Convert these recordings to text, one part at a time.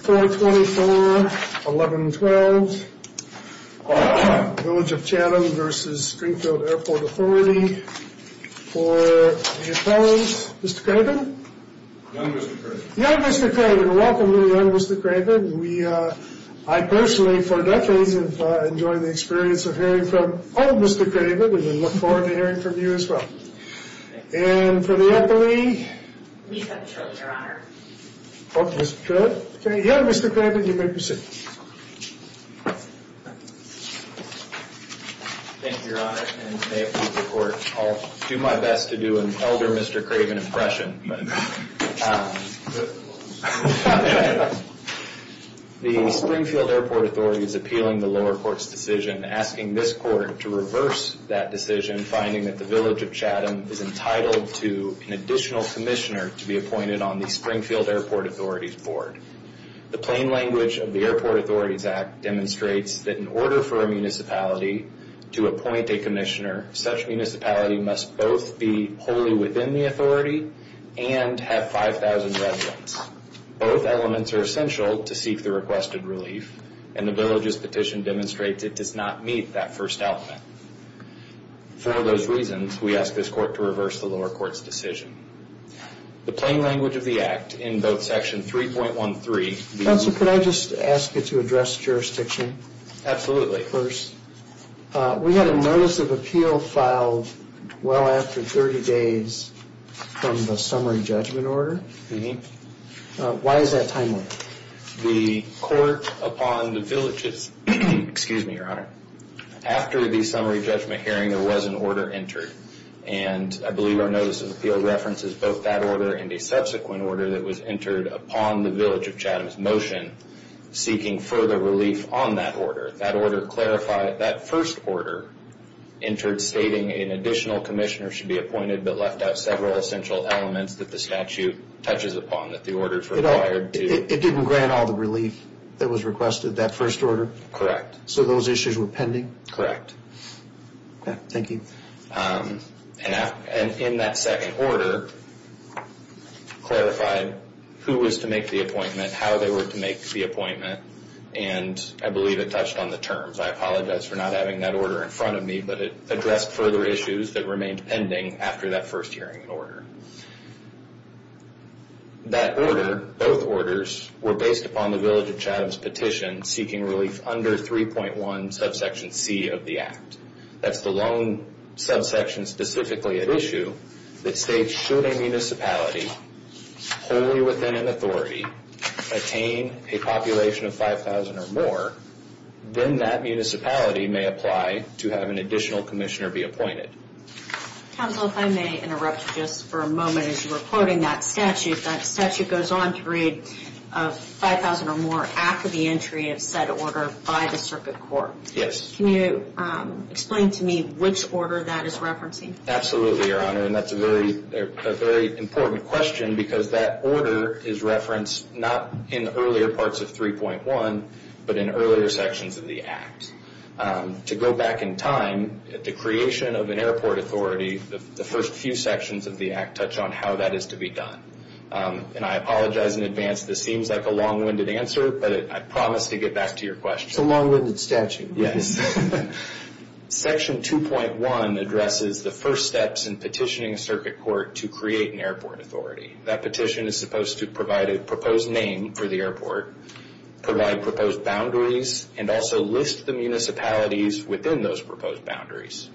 for the appellant, Mr. Craven? Young Mr. Craven. Young Mr. Craven. Welcome to the young Mr. Craven. I personally for decades have enjoyed the experience of hearing from old Mr. Craven and we look forward to hearing from you as well. And for the appellee? We have children, Your Honor. Okay, young Mr. Craven, you may proceed. Thank you, Your Honor, and may it please the Court, I'll do my best to do an elder Mr. Craven impression. The Springfield Airport Authority is appealing the lower Court's decision, asking this Court to reverse that decision, finding that the village of Chatham is entitled to an additional commissioner to be appointed on the Springfield Airport Authority's board. The plain language of the Airport Authorities Act demonstrates that in order for a municipality to appoint a commissioner, such municipality must both be wholly within the authority and have 5,000 residents. Both elements are essential to seek the requested relief, and the village's petition demonstrates it does not meet that first element. For those reasons, we ask this Court to reverse the lower Court's decision. The plain language of the Act in both Section 3.13. Counsel, could I just ask you to address jurisdiction? Absolutely. First, we had a notice of appeal filed well after 30 days from the summary judgment order. Why is that timely? The Court, upon the village's, excuse me, Your Honor, after the summary judgment hearing, there was an order entered, and I believe our notice of appeal references both that order and a subsequent order that was entered upon the village of Chatham's motion, seeking further relief on that order. That order clarified that first order entered stating an additional commissioner should be appointed, but left out several essential elements that the statute touches upon that the order required. It didn't grant all the relief that was requested, that first order? Correct. So those issues were pending? Correct. Thank you. And in that second order, clarified who was to make the appointment, how they were to make the appointment, and I believe it touched on the terms. I apologize for not having that order in front of me, but it addressed further issues that remained pending after that first hearing in order. That order, both orders, were based upon the village of Chatham's petition, seeking relief under 3.1 subsection C of the Act. That's the lone subsection specifically at issue that states should a municipality wholly within an authority attain a population of 5,000 or more, then that municipality may apply to have an additional commissioner be appointed. Counsel, if I may interrupt just for a moment as you were quoting that statute, that statute goes on to read of 5,000 or more after the entry of said order by the circuit court. Yes. Can you explain to me which order that is referencing? Absolutely, Your Honor, and that's a very important question because that order is referenced not in the earlier parts of 3.1, but in earlier sections of the Act. To go back in time, the creation of an airport authority, the first few sections of the Act touch on how that is to be done. I apologize in advance, this seems like a long-winded answer, but I promise to get back to your question. It's a long-winded statute. Yes. Section 2.1 addresses the first steps in petitioning a circuit court to create an airport authority. That petition is supposed to provide a proposed name for the airport, provide proposed boundaries, and also list the municipalities within those proposed boundaries.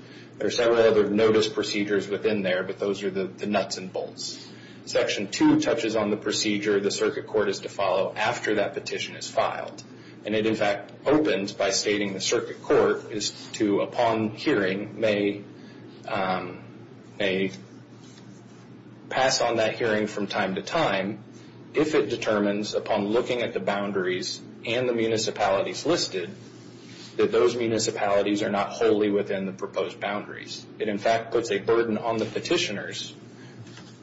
Section 2 touches on the procedure the circuit court is to follow after that petition is filed. It, in fact, opens by stating the circuit court is to, upon hearing, may pass on that hearing from time to time if it determines, upon looking at the boundaries and the municipalities listed, that those municipalities are not wholly within the proposed boundaries. Section 2.1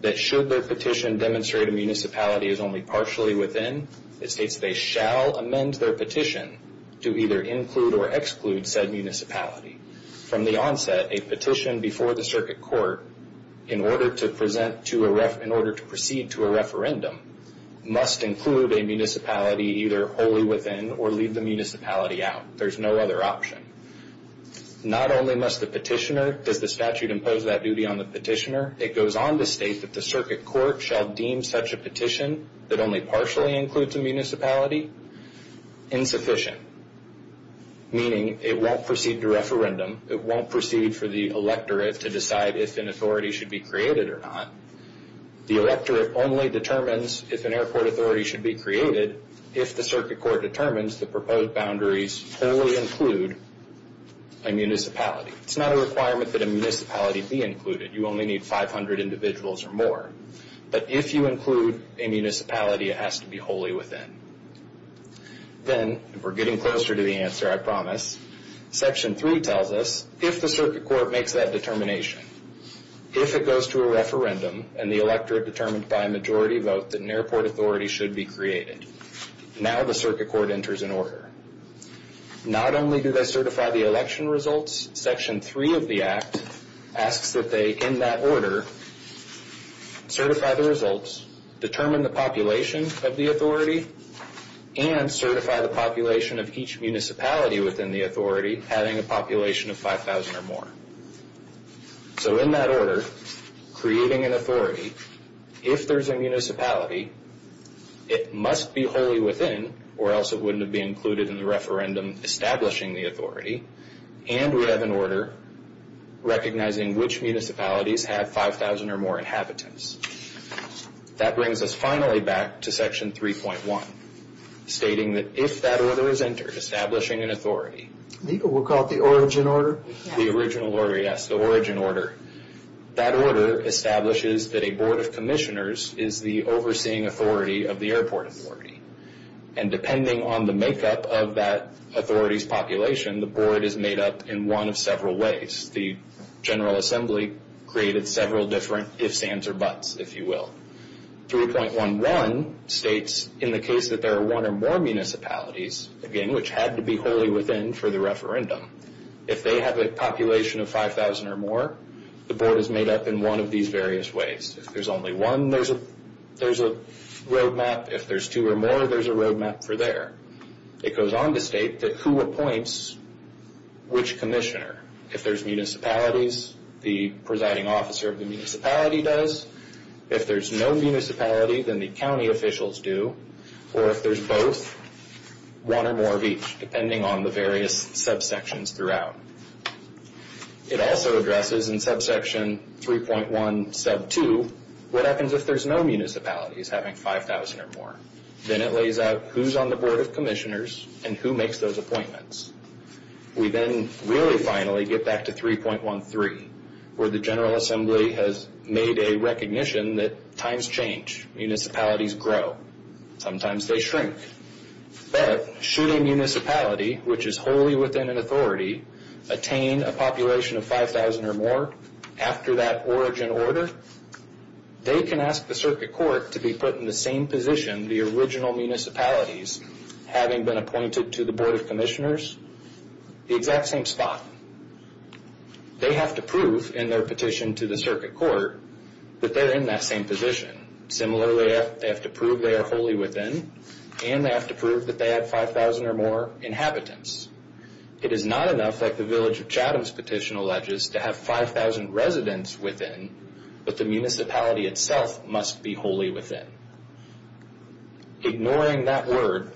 does not even demonstrate a municipality is only partially within. It states they shall amend their petition to either include or exclude said municipality. From the onset, a petition before the circuit court, in order to proceed to a referendum, must include a municipality either wholly within or leave the municipality out. There's no other option. Not only must the petitioner, does the statute impose that duty on the petitioner, it goes on to state that the circuit court shall do so. Should the circuit court now deem such a petition that only partially includes a municipality insufficient, meaning it won't proceed to referendum, it won't proceed for the electorate to decide if an authority should be created or not. The electorate only determines if an airport authority should be created if the circuit court determines the proposed boundaries wholly include a municipality. It's not a requirement that a municipality be included. You only need 500 individuals or more. But if you include a municipality, it has to be wholly within. Then, we're getting closer to the answer, I promise. Section 3 tells us if the circuit court makes that determination, if it goes to a referendum and the electorate determined by a majority vote that an airport authority should be created, now the circuit court enters an order. Not only do they certify the election results, Section 3 of the Act asks that they, in that order, certify the results, determine the population of the authority, and certify the population of each municipality within the authority having a population of 5,000 or more. So in that order, creating an authority, if there's a municipality, it must be wholly within, or else it wouldn't have been included in the referendum establishing the authority. And we have an order recognizing which municipalities have 5,000 or more inhabitants. That brings us finally back to Section 3.1, stating that if that order is entered, establishing an authority, legal, we'll call it the origin order, the original order, yes, the origin order, that order establishes that a board of commissioners is the overseeing authority of the airport authority. And depending on the makeup of that authority's population, the board is made up in one of several ways. The General Assembly created several different ifs, ands, or buts, if you will. 3.11 states in the case that there are one or more municipalities, again, which had to be wholly within for the referendum, if they have a population of 5,000 or more, the board is made up in one of these various ways. If there's only one, there's a roadmap. If there's two or more, there's a roadmap for there. It goes on to state that who appoints which commissioner. If there's municipalities, the presiding officer of the municipality does. If there's no municipality, then the county officials do. Or if there's both, one or more of each, depending on the various subsections throughout. It also addresses in subsection 3.1 sub 2, what happens if there's no municipalities having 5,000 or more? Then it lays out who's on the board of commissioners and who makes those appointments. We then really finally get back to 3.13, where the General Assembly has made a recognition that times change. Municipalities grow. Sometimes they shrink. But should a municipality, which is wholly within an authority, attain a population of 5,000 or more after that origin order, they can ask the circuit court to be put in the same position, the original municipalities, having been appointed to the board of commissioners, the exact same spot. They have to prove in their petition to the circuit court that they're in that same position. Similarly, they have to prove they are wholly within, and they have to prove that they have 5,000 or more inhabitants. It is not enough, like the Village of Chatham's petition alleges, to have 5,000 residents within, but the municipality itself must be wholly within. Ignoring that word,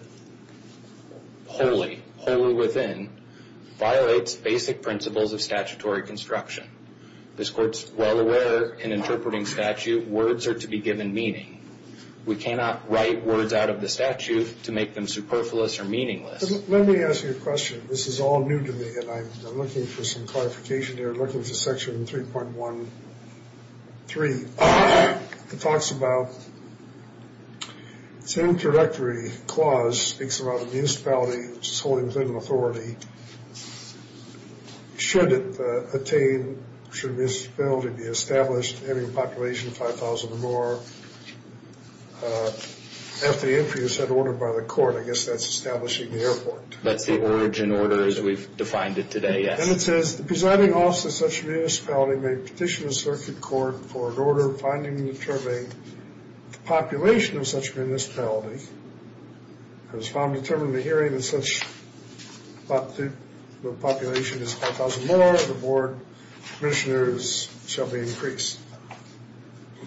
wholly, wholly within, violates basic principles of statutory construction. This court's well aware in interpreting statute, words are to be given meaning. We cannot write words out of the statute to make them superfluous or meaningless. Let me ask you a question. This is all new to me, and I'm looking for some clarification here. I'm looking for section 3.13. It talks about, it's an introductory clause, speaks about a municipality which is wholly within an authority. Should it attain, should a municipality be established having a population of 5,000 or more, after the interview is said and ordered by the court, I guess that's establishing the airport. That's the origin order as we've defined it today, yes. Then it says, the presiding officer of such a municipality may petition the circuit court for an order finding and determining the population of such a municipality. It was found determined in the hearing that since the population is 5,000 more, the board of commissioners shall be increased.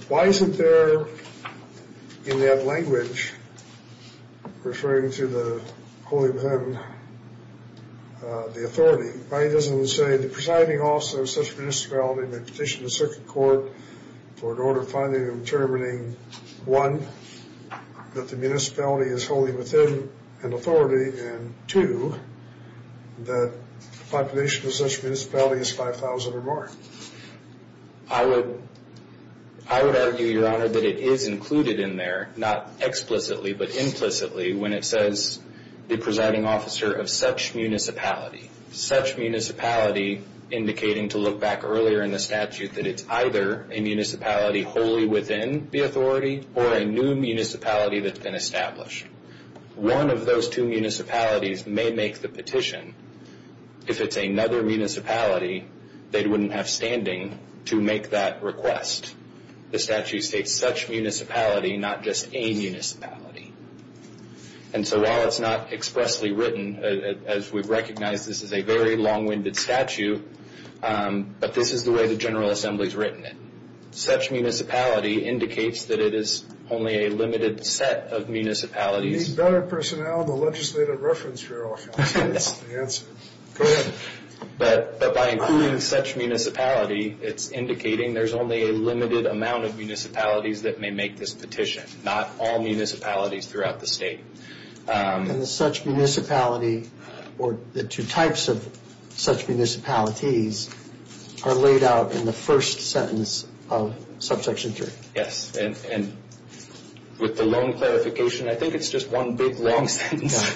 Why isn't there in that language, referring to the wholly within, the authority? Why doesn't it say, the presiding officer of such a municipality may petition the circuit court for an order finding and determining, one, that the municipality is wholly within an authority, and two, that the population of such a municipality is 5,000 or more. I would argue, Your Honor, that it is included in there, not explicitly, but implicitly, when it says, the presiding officer of such a municipality. Such a municipality, indicating to look back earlier in the statute, that it's either a municipality wholly within the authority, or a new municipality that's been established. One of those two municipalities may make the petition. If it's another municipality, they wouldn't have standing to make that request. The statute states, such municipality, not just a municipality. And so while it's not expressly written, as we've recognized, this is a very long-winded statute, but this is the way the General Assembly's written it. Such municipality indicates that it is only a limited set of municipalities. We need better personnel in the legislative reference, Your Honor. That's the answer. Go ahead. But by including such municipality, it's indicating there's only a limited amount of municipalities that may make this petition. Not all municipalities throughout the state. And the such municipality, or the two types of such municipalities, are laid out in the first sentence of Subsection 3. Yes, and with the loan clarification, I think it's just one big, long sentence.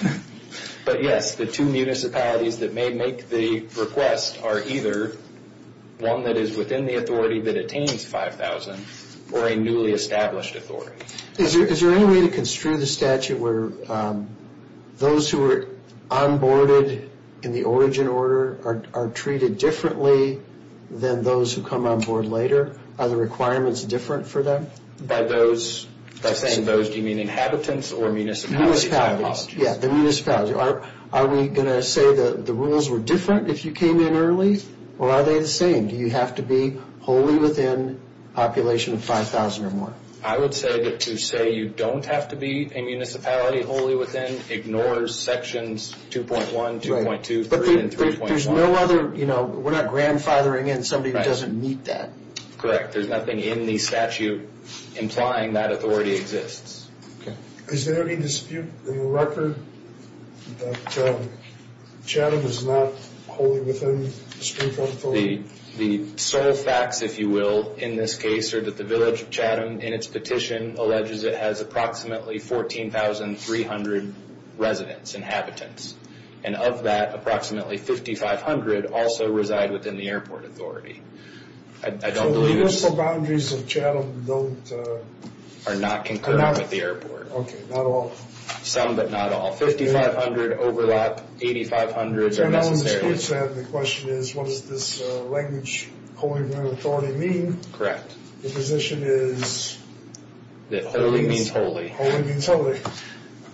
But yes, the two municipalities that may make the request are either one that is within the authority that attains 5,000, or a newly established authority. Is there any way to construe the statute where those who are onboarded in the origin order are treated differently than those who come onboard later? Are the requirements different for them? By those, by saying those, do you mean inhabitants or municipalities? The municipalities. Yeah, the municipalities. Are we going to say that the rules were different if you came in early, or are they the same? Do you have to be wholly within a population of 5,000 or more? I would say that to say you don't have to be a municipality wholly within ignores Sections 2.1, 2.2, 3, and 3.1. But there's no other, you know, we're not grandfathering in somebody who doesn't meet that. Correct. There's nothing in the statute implying that authority exists. Okay. Is there any dispute in the record that Chatham is not wholly within the Supreme Court authority? The sole facts, if you will, in this case are that the village of Chatham, in its petition, alleges it has approximately 14,300 residents, inhabitants. And of that, approximately 5,500 also reside within the airport authority. So the municipal boundaries of Chatham don't... Are not concurrent with the airport. Okay, not all. Some, but not all. 5,500 overlap, 8,500 are necessary. The question is, what does this language wholly within authority mean? Correct. The position is... That wholly means wholly. Wholly means wholly.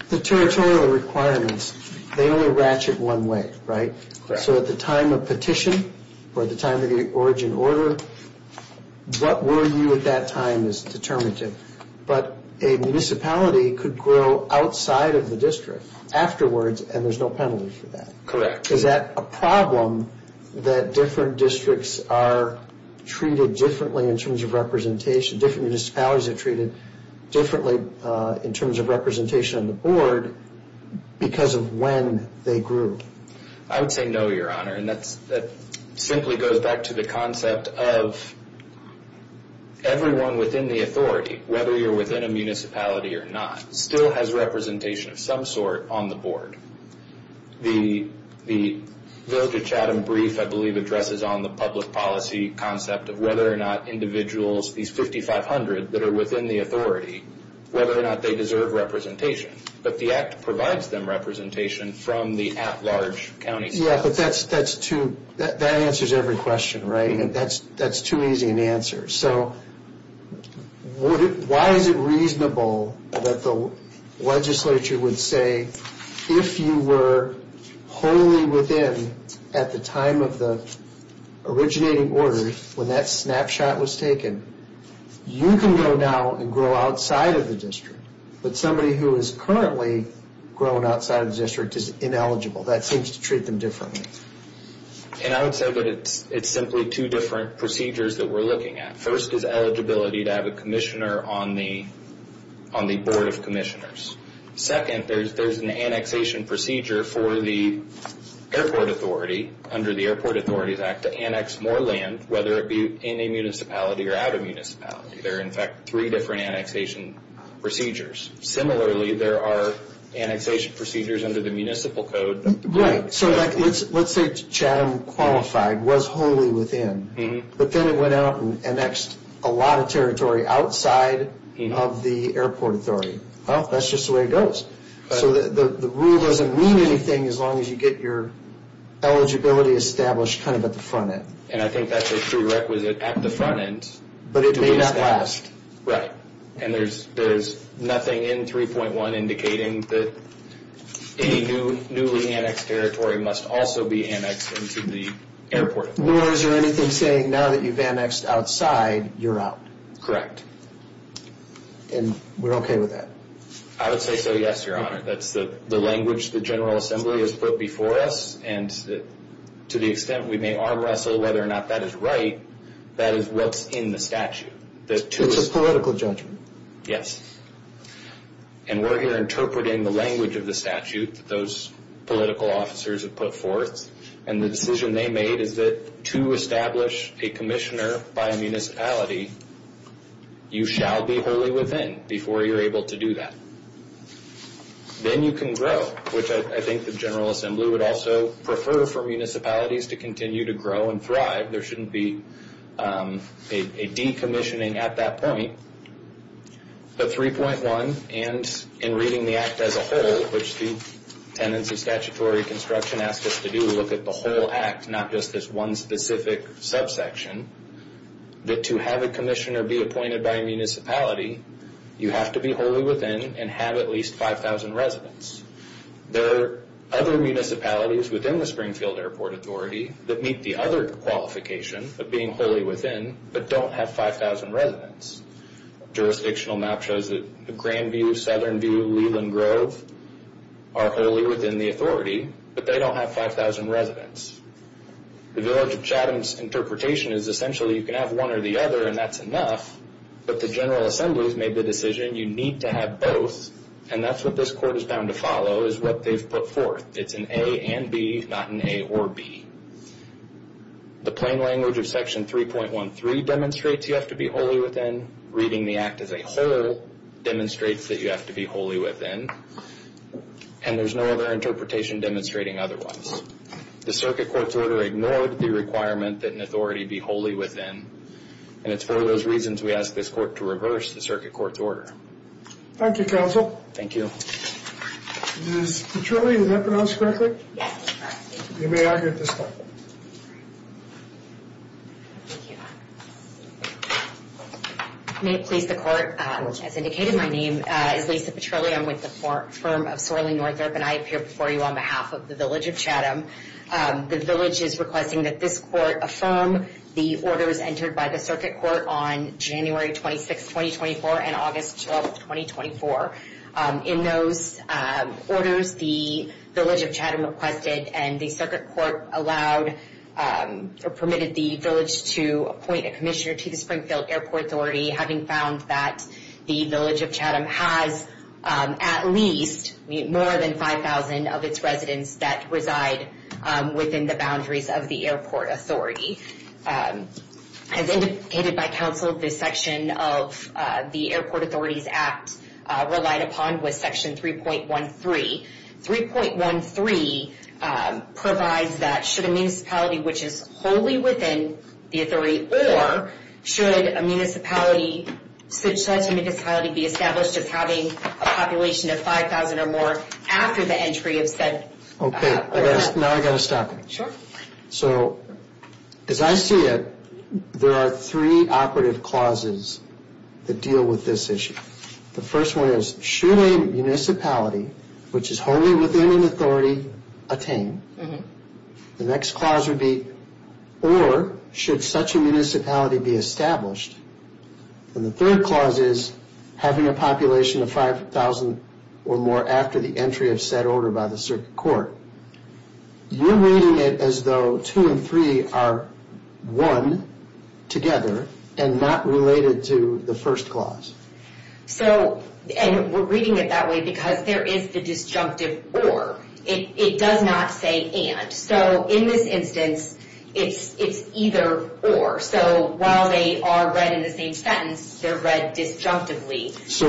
The territorial requirements, they only ratchet one way, right? Correct. So at the time of petition, or at the time of the origin order, what were you at that time is determinative. But a municipality could grow outside of the district afterwards, and there's no penalty for that. Correct. Is that a problem that different districts are treated differently in terms of representation, different municipalities are treated differently in terms of representation on the board because of when they grew? I would say no, Your Honor. And that simply goes back to the concept of everyone within the authority, whether you're within a municipality or not, still has representation of some sort on the board. The Village of Chatham brief, I believe, addresses on the public policy concept of whether or not individuals, these 5,500 that are within the authority, whether or not they deserve representation. But the Act provides them representation from the at-large counties. Yeah, but that answers every question, right? That's too easy an answer. So why is it reasonable that the legislature would say, if you were wholly within at the time of the originating order when that snapshot was taken, you can go now and grow outside of the district. But somebody who is currently growing outside of the district is ineligible. That seems to treat them differently. And I would say that it's simply two different procedures that we're looking at. First is eligibility to have a commissioner on the board of commissioners. Second, there's an annexation procedure for the airport authority, under the Airport Authorities Act, to annex more land, whether it be in a municipality or out of a municipality. There are, in fact, three different annexation procedures. Similarly, there are annexation procedures under the municipal code. Right, so let's say Chatham qualified, was wholly within. But then it went out and annexed a lot of territory outside of the airport authority. Well, that's just the way it goes. So the rule doesn't mean anything as long as you get your eligibility established kind of at the front end. And I think that's a prerequisite at the front end. But it may not last. And there's nothing in 3.1 indicating that any newly annexed territory must also be annexed into the airport authority. Nor is there anything saying now that you've annexed outside, you're out. Correct. And we're okay with that? I would say so, yes, Your Honor. That's the language the General Assembly has put before us. And to the extent we may arm wrestle whether or not that is right, that is what's in the statute. It's a political judgment. Yes. And we're here interpreting the language of the statute that those political officers have put forth. And the decision they made is that to establish a commissioner by a municipality, you shall be wholly within before you're able to do that. Then you can grow, which I think the General Assembly would also prefer for municipalities to continue to grow and thrive. There shouldn't be a decommissioning at that point. But 3.1 and in reading the act as a whole, which the tenants of statutory construction asked us to do, look at the whole act, not just this one specific subsection, that to have a commissioner be appointed by a municipality, you have to be wholly within and have at least 5,000 residents. There are other municipalities within the Springfield Airport Authority that meet the other qualification of being wholly within, but don't have 5,000 residents. Jurisdictional map shows that Grandview, Southern View, Leland Grove are wholly within the authority, but they don't have 5,000 residents. The Village of Chatham's interpretation is essentially you can have one or the other and that's enough, but the General Assembly has made the decision you need to have both, and that's what this court is bound to follow, is what they've put forth. It's an A and B, not an A or B. The plain language of Section 3.13 demonstrates you have to be wholly within. Reading the act as a whole demonstrates that you have to be wholly within, and there's no other interpretation demonstrating otherwise. The circuit court's order ignored the requirement that an authority be wholly within, and it's for those reasons we ask this court to reverse the circuit court's order. Thank you, counsel. Thank you. Ms. Petrilli, is that pronounced correctly? Yes, it's pronounced correctly. You may argue at this time. Thank you. May it please the court, as indicated, my name is Lisa Petrilli. I am with the firm of Sorley Northrup, and I appear before you on behalf of the Village of Chatham. The village is requesting that this court affirm the orders entered by the circuit court on January 26, 2024, and August 12, 2024. In those orders, the Village of Chatham requested and the circuit court allowed or permitted the village to appoint a commissioner to the Springfield Airport Authority, having found that the Village of Chatham has at least more than 5,000 of its residents that reside within the boundaries of the airport authority. As indicated by counsel, this section of the Airport Authorities Act relied upon was section 3.13. 3.13 provides that should a municipality which is wholly within the authority or should such a municipality be established as having a population of 5,000 or more after the entry of said... Okay, now I've got to stop you. So, as I see it, there are three operative clauses that deal with this issue. The first one is, should a municipality which is wholly within an authority attain, the next clause would be, or should such a municipality be established. And the third clause is, having a population of 5,000 or more after the entry of said order by the circuit court. You're reading it as though two and three are one together and not related to the first clause. So, and we're reading it that way because there is the disjunctive or. It does not say and. So, in this instance, it's either or. So, while they are read in the same sentence, they're read disjunctively. So,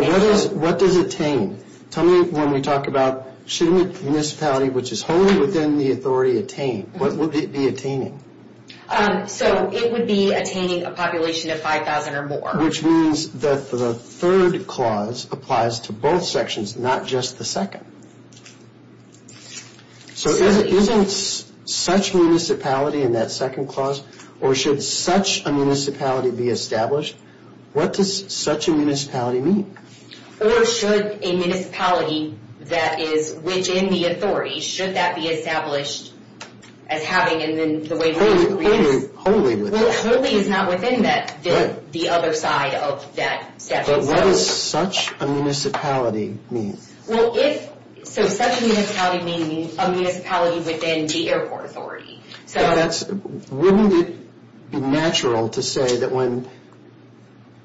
what does attain? Tell me when we talk about, should a municipality which is wholly within the authority attain? What would it be attaining? So, it would be attaining a population of 5,000 or more. Which means that the third clause applies to both sections, not just the second. So, isn't such municipality in that second clause? Or should such a municipality be established? What does such a municipality mean? Or should a municipality that is within the authority, should that be established as having and then the way we read it. Wholly within. Well, wholly is not within that, the other side of that section. But what does such a municipality mean? Well, if, so such a municipality meaning a municipality within the airport authority. So, that's, wouldn't it be natural to say that when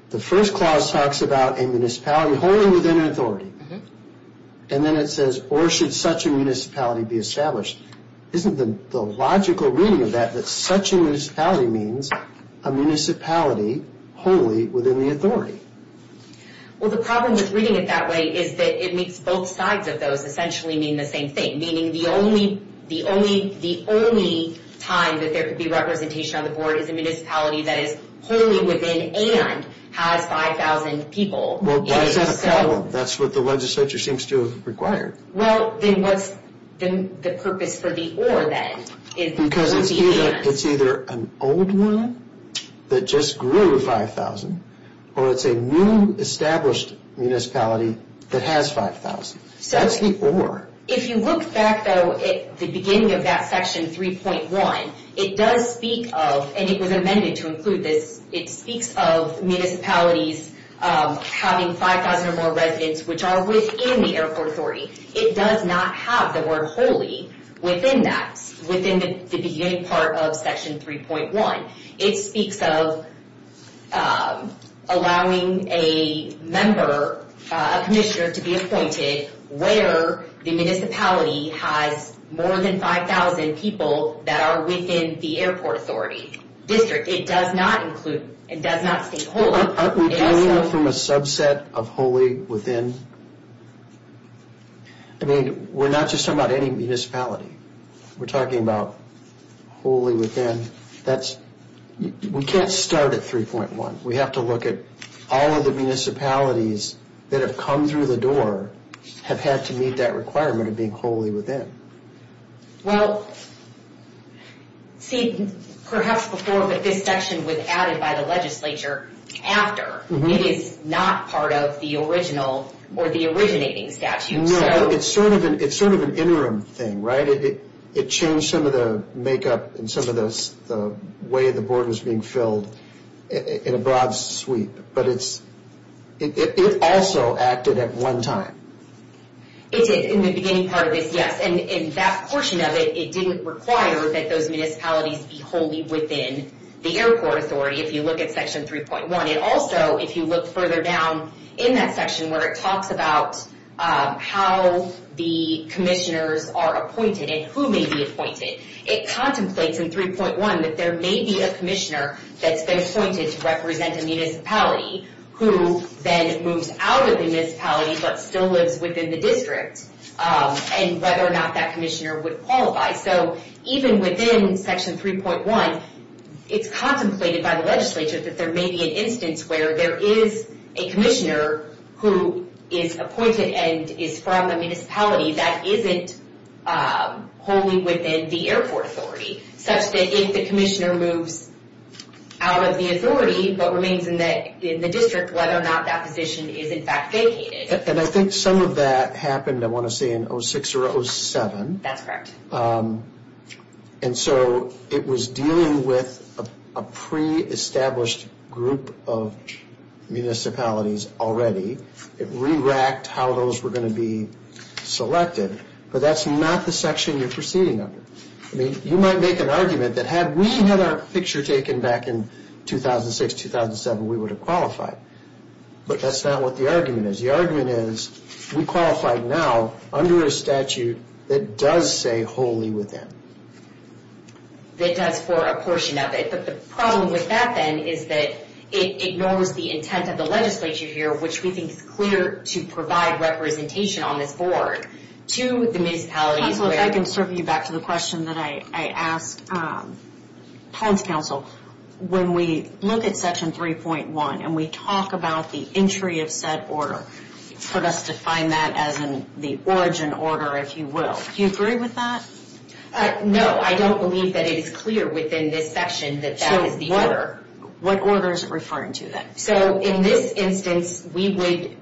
the first clause talks about a municipality wholly within an authority. And then it says, or should such a municipality be established? Isn't the logical reading of that, that such a municipality means a municipality wholly within the authority? Well, the problem with reading it that way is that it makes both sides of those essentially mean the same thing. Meaning the only, the only, the only time that there could be representation on the board is a municipality that is wholly within and has 5,000 people. Well, that's what the legislature seems to have required. Well, then what's the purpose for the or then? Because it's either an old one that just grew 5,000 or it's a new established municipality that has 5,000. That's the or. If you look back though at the beginning of that section 3.1, it does speak of, and it was amended to include this, it speaks of municipalities having 5,000 or more residents which are within the airport authority. It does not have the word wholly within that, within the beginning part of section 3.1. It speaks of allowing a member, a commissioner to be appointed where the municipality has more than 5,000 people that are within the airport authority district. It does not include, it does not state wholly. Aren't we dealing from a subset of wholly within? I mean, we're not just talking about any municipality. We're talking about wholly within. That's, we can't start at 3.1. We have to look at all of the municipalities that have come through the door have had to meet that requirement of being wholly within. Well, see, perhaps before, but this section was added by the legislature after. It is not part of the original or the originating statute. No, it's sort of an interim thing, right? It changed some of the makeup and some of the way the board was being filled in a broad sweep. But it's, it also acted at one time. It did in the beginning part of this, yes. And in that portion of it, it didn't require that those municipalities be wholly within the airport authority. If you look at section 3.1. It also, if you look further down in that section where it talks about how the commissioners are appointed and who may be appointed, it contemplates in 3.1 that there may be a commissioner that's been appointed to represent a municipality who then moves out of the municipality but still lives within the district and whether or not that commissioner would qualify. So even within section 3.1, it's contemplated by the legislature that there may be an instance where there is a commissioner who is appointed and is from a municipality that isn't wholly within the airport authority, such that if the commissioner moves out of the authority but remains in the district, whether or not that position is in fact vacated. And I think some of that happened, I want to say, in 06 or 07. That's correct. And so it was dealing with a pre-established group of municipalities already. It re-racked how those were going to be selected. But that's not the section you're proceeding under. I mean, you might make an argument that had we had our picture taken back in 2006, 2007, we would have qualified. But that's not what the argument is. The argument is we qualified now under a statute that does say wholly within. It does for a portion of it. But the problem with that then is that it ignores the intent of the legislature here, which we think is clear to provide representation on this board to the municipalities. So if I can serve you back to the question that I asked. Plans Council, when we look at Section 3.1 and we talk about the entry of said order, for us to find that as in the origin order, if you will, do you agree with that? No, I don't believe that it is clear within this section that that is the order. What order is it referring to then? So in this instance, we would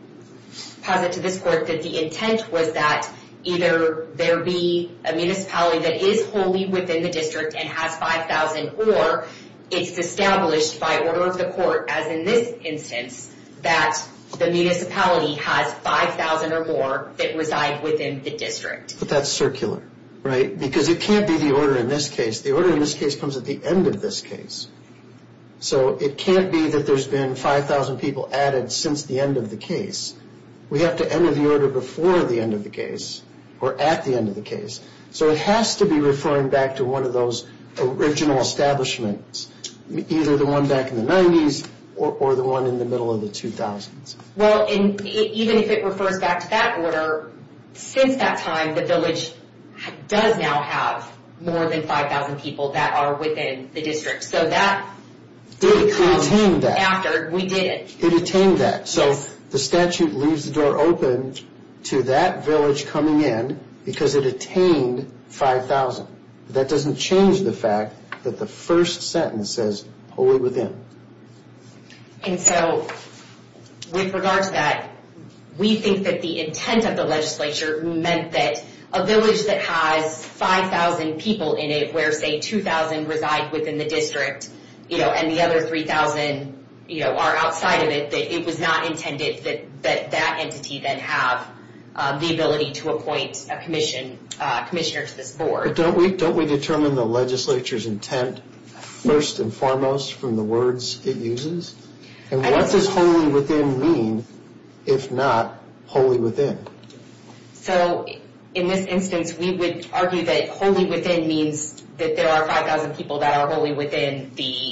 posit to this court that the intent was that either there be a municipality that is wholly within the district and has 5,000 or it's established by order of the court, as in this instance, that the municipality has 5,000 or more that reside within the district. But that's circular, right? Because it can't be the order in this case. The order in this case comes at the end of this case. So it can't be that there's been 5,000 people added since the end of the case. We have to enter the order before the end of the case or at the end of the case. So it has to be referring back to one of those original establishments, either the one back in the 90s or the one in the middle of the 2000s. Well, even if it refers back to that order, since that time, the village does now have more than 5,000 people that are within the district. So that becomes after we did it. It attained that. So the statute leaves the door open to that village coming in because it attained 5,000. That doesn't change the fact that the first sentence says wholly within. And so with regard to that, we think that the intent of the legislature meant that a village that has 5,000 people in it where, say, 2,000 reside within the district and the other 3,000 are outside of it, that it was not intended that that entity then have the ability to appoint a commissioner to this board. Don't we determine the legislature's intent first and foremost from the words it uses? And what does wholly within mean if not wholly within? So in this instance, we would argue that wholly within means that there are 5,000 people that are wholly within the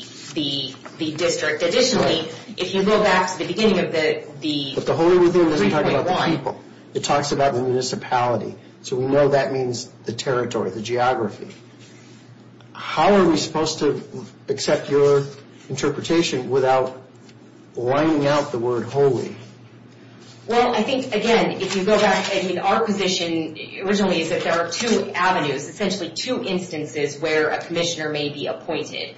district. Additionally, if you go back to the beginning of the 3.1... But the wholly within doesn't talk about the people. It talks about the municipality. So we know that means the territory, the geography. How are we supposed to accept your interpretation without lining out the word wholly? Well, I think, again, if you go back... I mean, our position originally is that there are two avenues, essentially two instances where a commissioner may be appointed.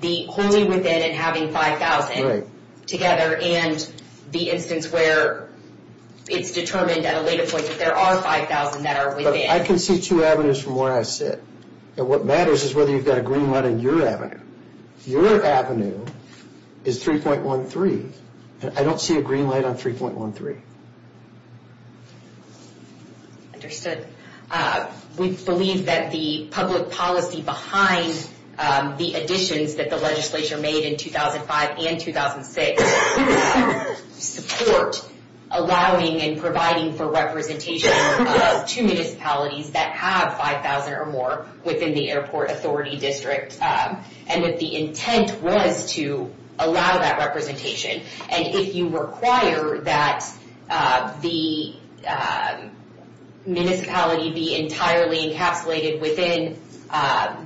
The wholly within and having 5,000 together. And the instance where it's determined at a later point that there are 5,000 that are within. I can see two avenues from where I sit. And what matters is whether you've got a green light on your avenue. Your avenue is 3.13. I don't see a green light on 3.13. Understood. We believe that the public policy behind the additions that the legislature made in 2005 and 2006 support allowing and providing for representation of two municipalities that have 5,000 or more within the airport authority district. And that the intent was to allow that representation. And if you require that the municipality be entirely encapsulated within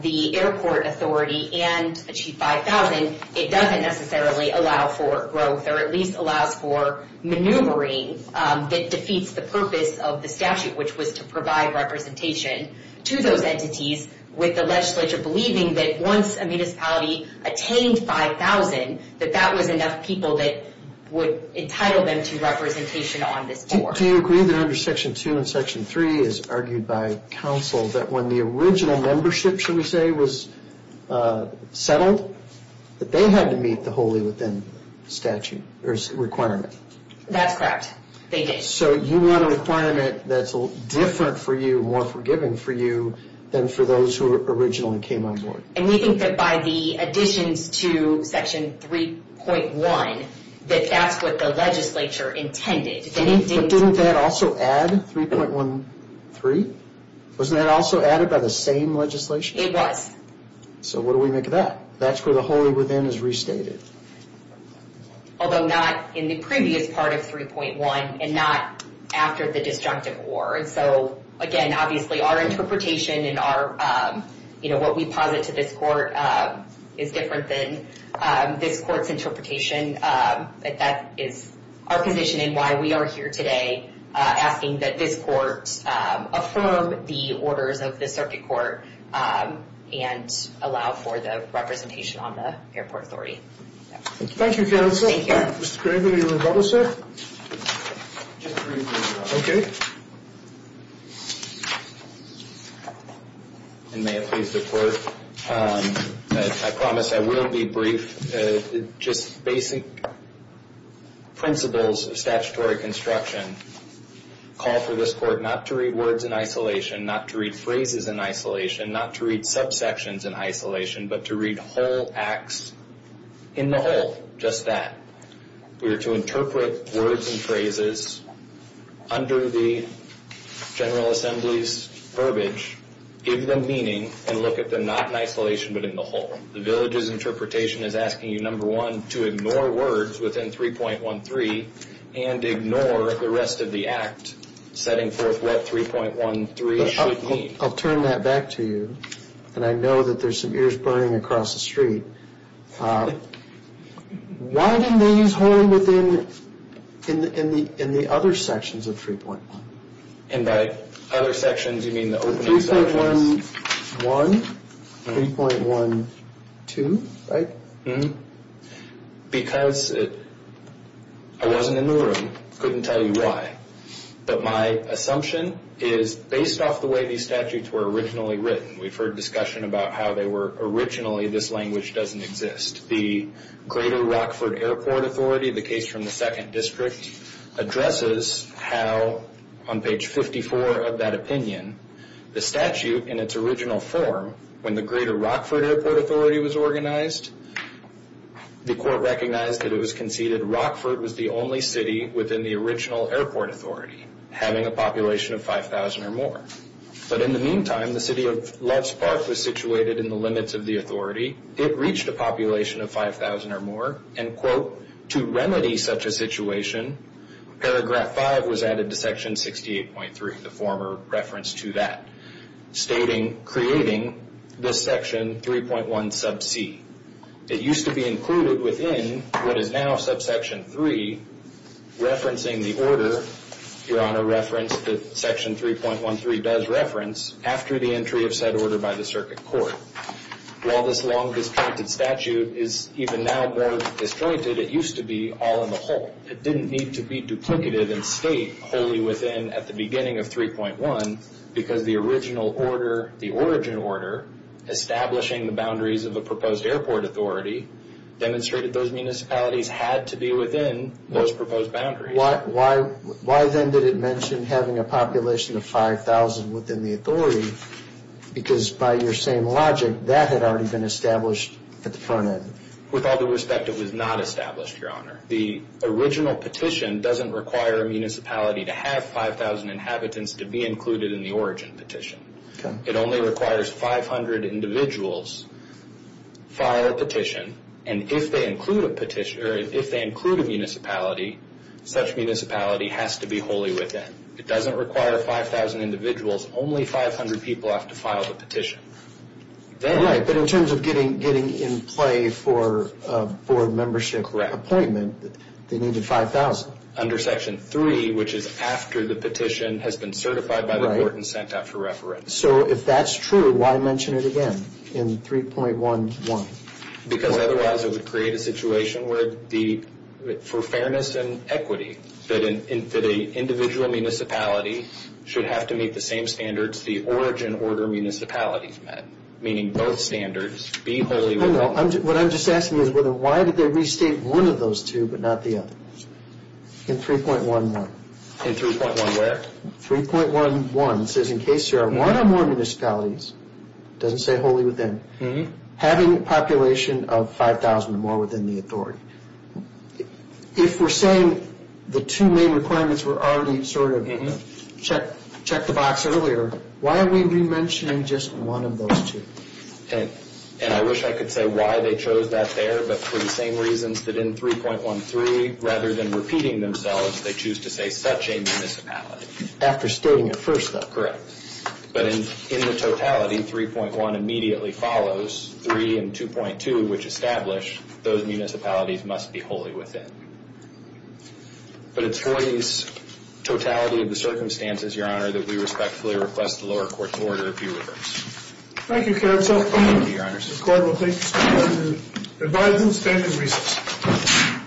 the airport authority and achieve 5,000, it doesn't necessarily allow for growth or at least allows for maneuvering that defeats the purpose of the statute, which was to provide representation to those entities with the legislature believing that once a municipality attained 5,000, that that was enough people that would entitle them to representation on this board. Do you agree that under Section 2 and Section 3, as argued by counsel, that when the original membership, shall we say, was settled, that they had to meet the wholly within requirement? That's correct. They did. So you want a requirement that's different for you, more forgiving for you, than for those who originally came on board. And we think that by the additions to Section 3.1, that that's what the legislature intended. Didn't that also add 3.13? Wasn't that also added by the same legislation? It was. So what do we make of that? That's where the wholly within is restated. Although not in the previous part of 3.1 and not after the destructive war. And so, again, obviously our interpretation and what we posit to this court is different than this court's interpretation. But that is our position and why we are here today asking that this court affirm the orders of the circuit court and allow for the representation on the airport authority. Thank you, counsel. Thank you. Mr. Craven, any rebuttals, sir? Just briefly. Okay. And may it please the court that I promise I will be brief. Just basic principles of statutory construction call for this court not to read words in isolation, not to read phrases in isolation, not to read subsections in isolation, but to read whole acts in the whole, just that. We are to interpret words and phrases under the General Assembly's verbiage, give them meaning, and look at them not in isolation but in the whole. The village's interpretation is asking you, number one, to ignore words within 3.13 and ignore the rest of the act setting forth what 3.13 should mean. I'll turn that back to you. And I know that there's some ears burning across the street. Why didn't they use whole in the other sections of 3.1? And by other sections, you mean the opening sections? 3.11, 3.12, right? Because I wasn't in the room, couldn't tell you why. But my assumption is, based off the way these statutes were originally written, we've heard discussion about how they were originally, this language doesn't exist. The Greater Rockford Airport Authority, the case from the 2nd District, addresses how on page 54 of that opinion, the statute in its original form, when the Greater Rockford Airport Authority was organized, the court recognized that it was conceded Rockford was the only city within the original airport authority having a population of 5,000 or more. But in the meantime, the city of Loves Park was situated in the limits of the authority. It reached a population of 5,000 or more, and, quote, to remedy such a situation, paragraph 5 was added to section 68.3, the former reference to that, stating, creating this section 3.1 sub c. It used to be included within what is now subsection 3, referencing the order, Your Honor referenced that section 3.13 does reference, after the entry of said order by the circuit court. While this long-disjointed statute is even now more disjointed, it used to be all in the whole. It didn't need to be duplicative and state wholly within at the beginning of 3.1 because the original order, the origin order, establishing the boundaries of a proposed airport authority, demonstrated those municipalities had to be within those proposed boundaries. Why then did it mention having a population of 5,000 within the authority? Because by your same logic, that had already been established at the front end. With all due respect, it was not established, Your Honor. The original petition doesn't require a municipality to have 5,000 inhabitants to be included in the origin petition. It only requires 500 individuals file a petition, and if they include a municipality, such municipality has to be wholly within. It doesn't require 5,000 individuals. Only 500 people have to file the petition. Right, but in terms of getting in play for a board membership appointment, they needed 5,000. Under Section 3, which is after the petition has been certified by the court and sent out for reference. So if that's true, why mention it again in 3.11? Because otherwise it would create a situation where for fairness and equity, that an individual municipality should have to meet the same standards, the origin order municipalities met, meaning both standards be wholly within. What I'm just asking is why did they restate one of those two but not the other? In 3.11. In 3.11 where? 3.11 says in case there are one or more municipalities, doesn't say wholly within, having a population of 5,000 or more within the authority. If we're saying the two main requirements were already sort of checked the box earlier, why are we mentioning just one of those two? And I wish I could say why they chose that there, but for the same reasons that in 3.13, rather than repeating themselves, they choose to say such a municipality. After stating it first though. Correct. But in the totality, 3.1 immediately follows, 3 and 2.2, which establish those municipalities must be wholly within. But it's for these totality of the circumstances, Your Honor, that we respectfully request the lower court's order to be reversed. Thank you, counsel. Thank you, Your Honor. This court will take the stand on the advisory stand and recess.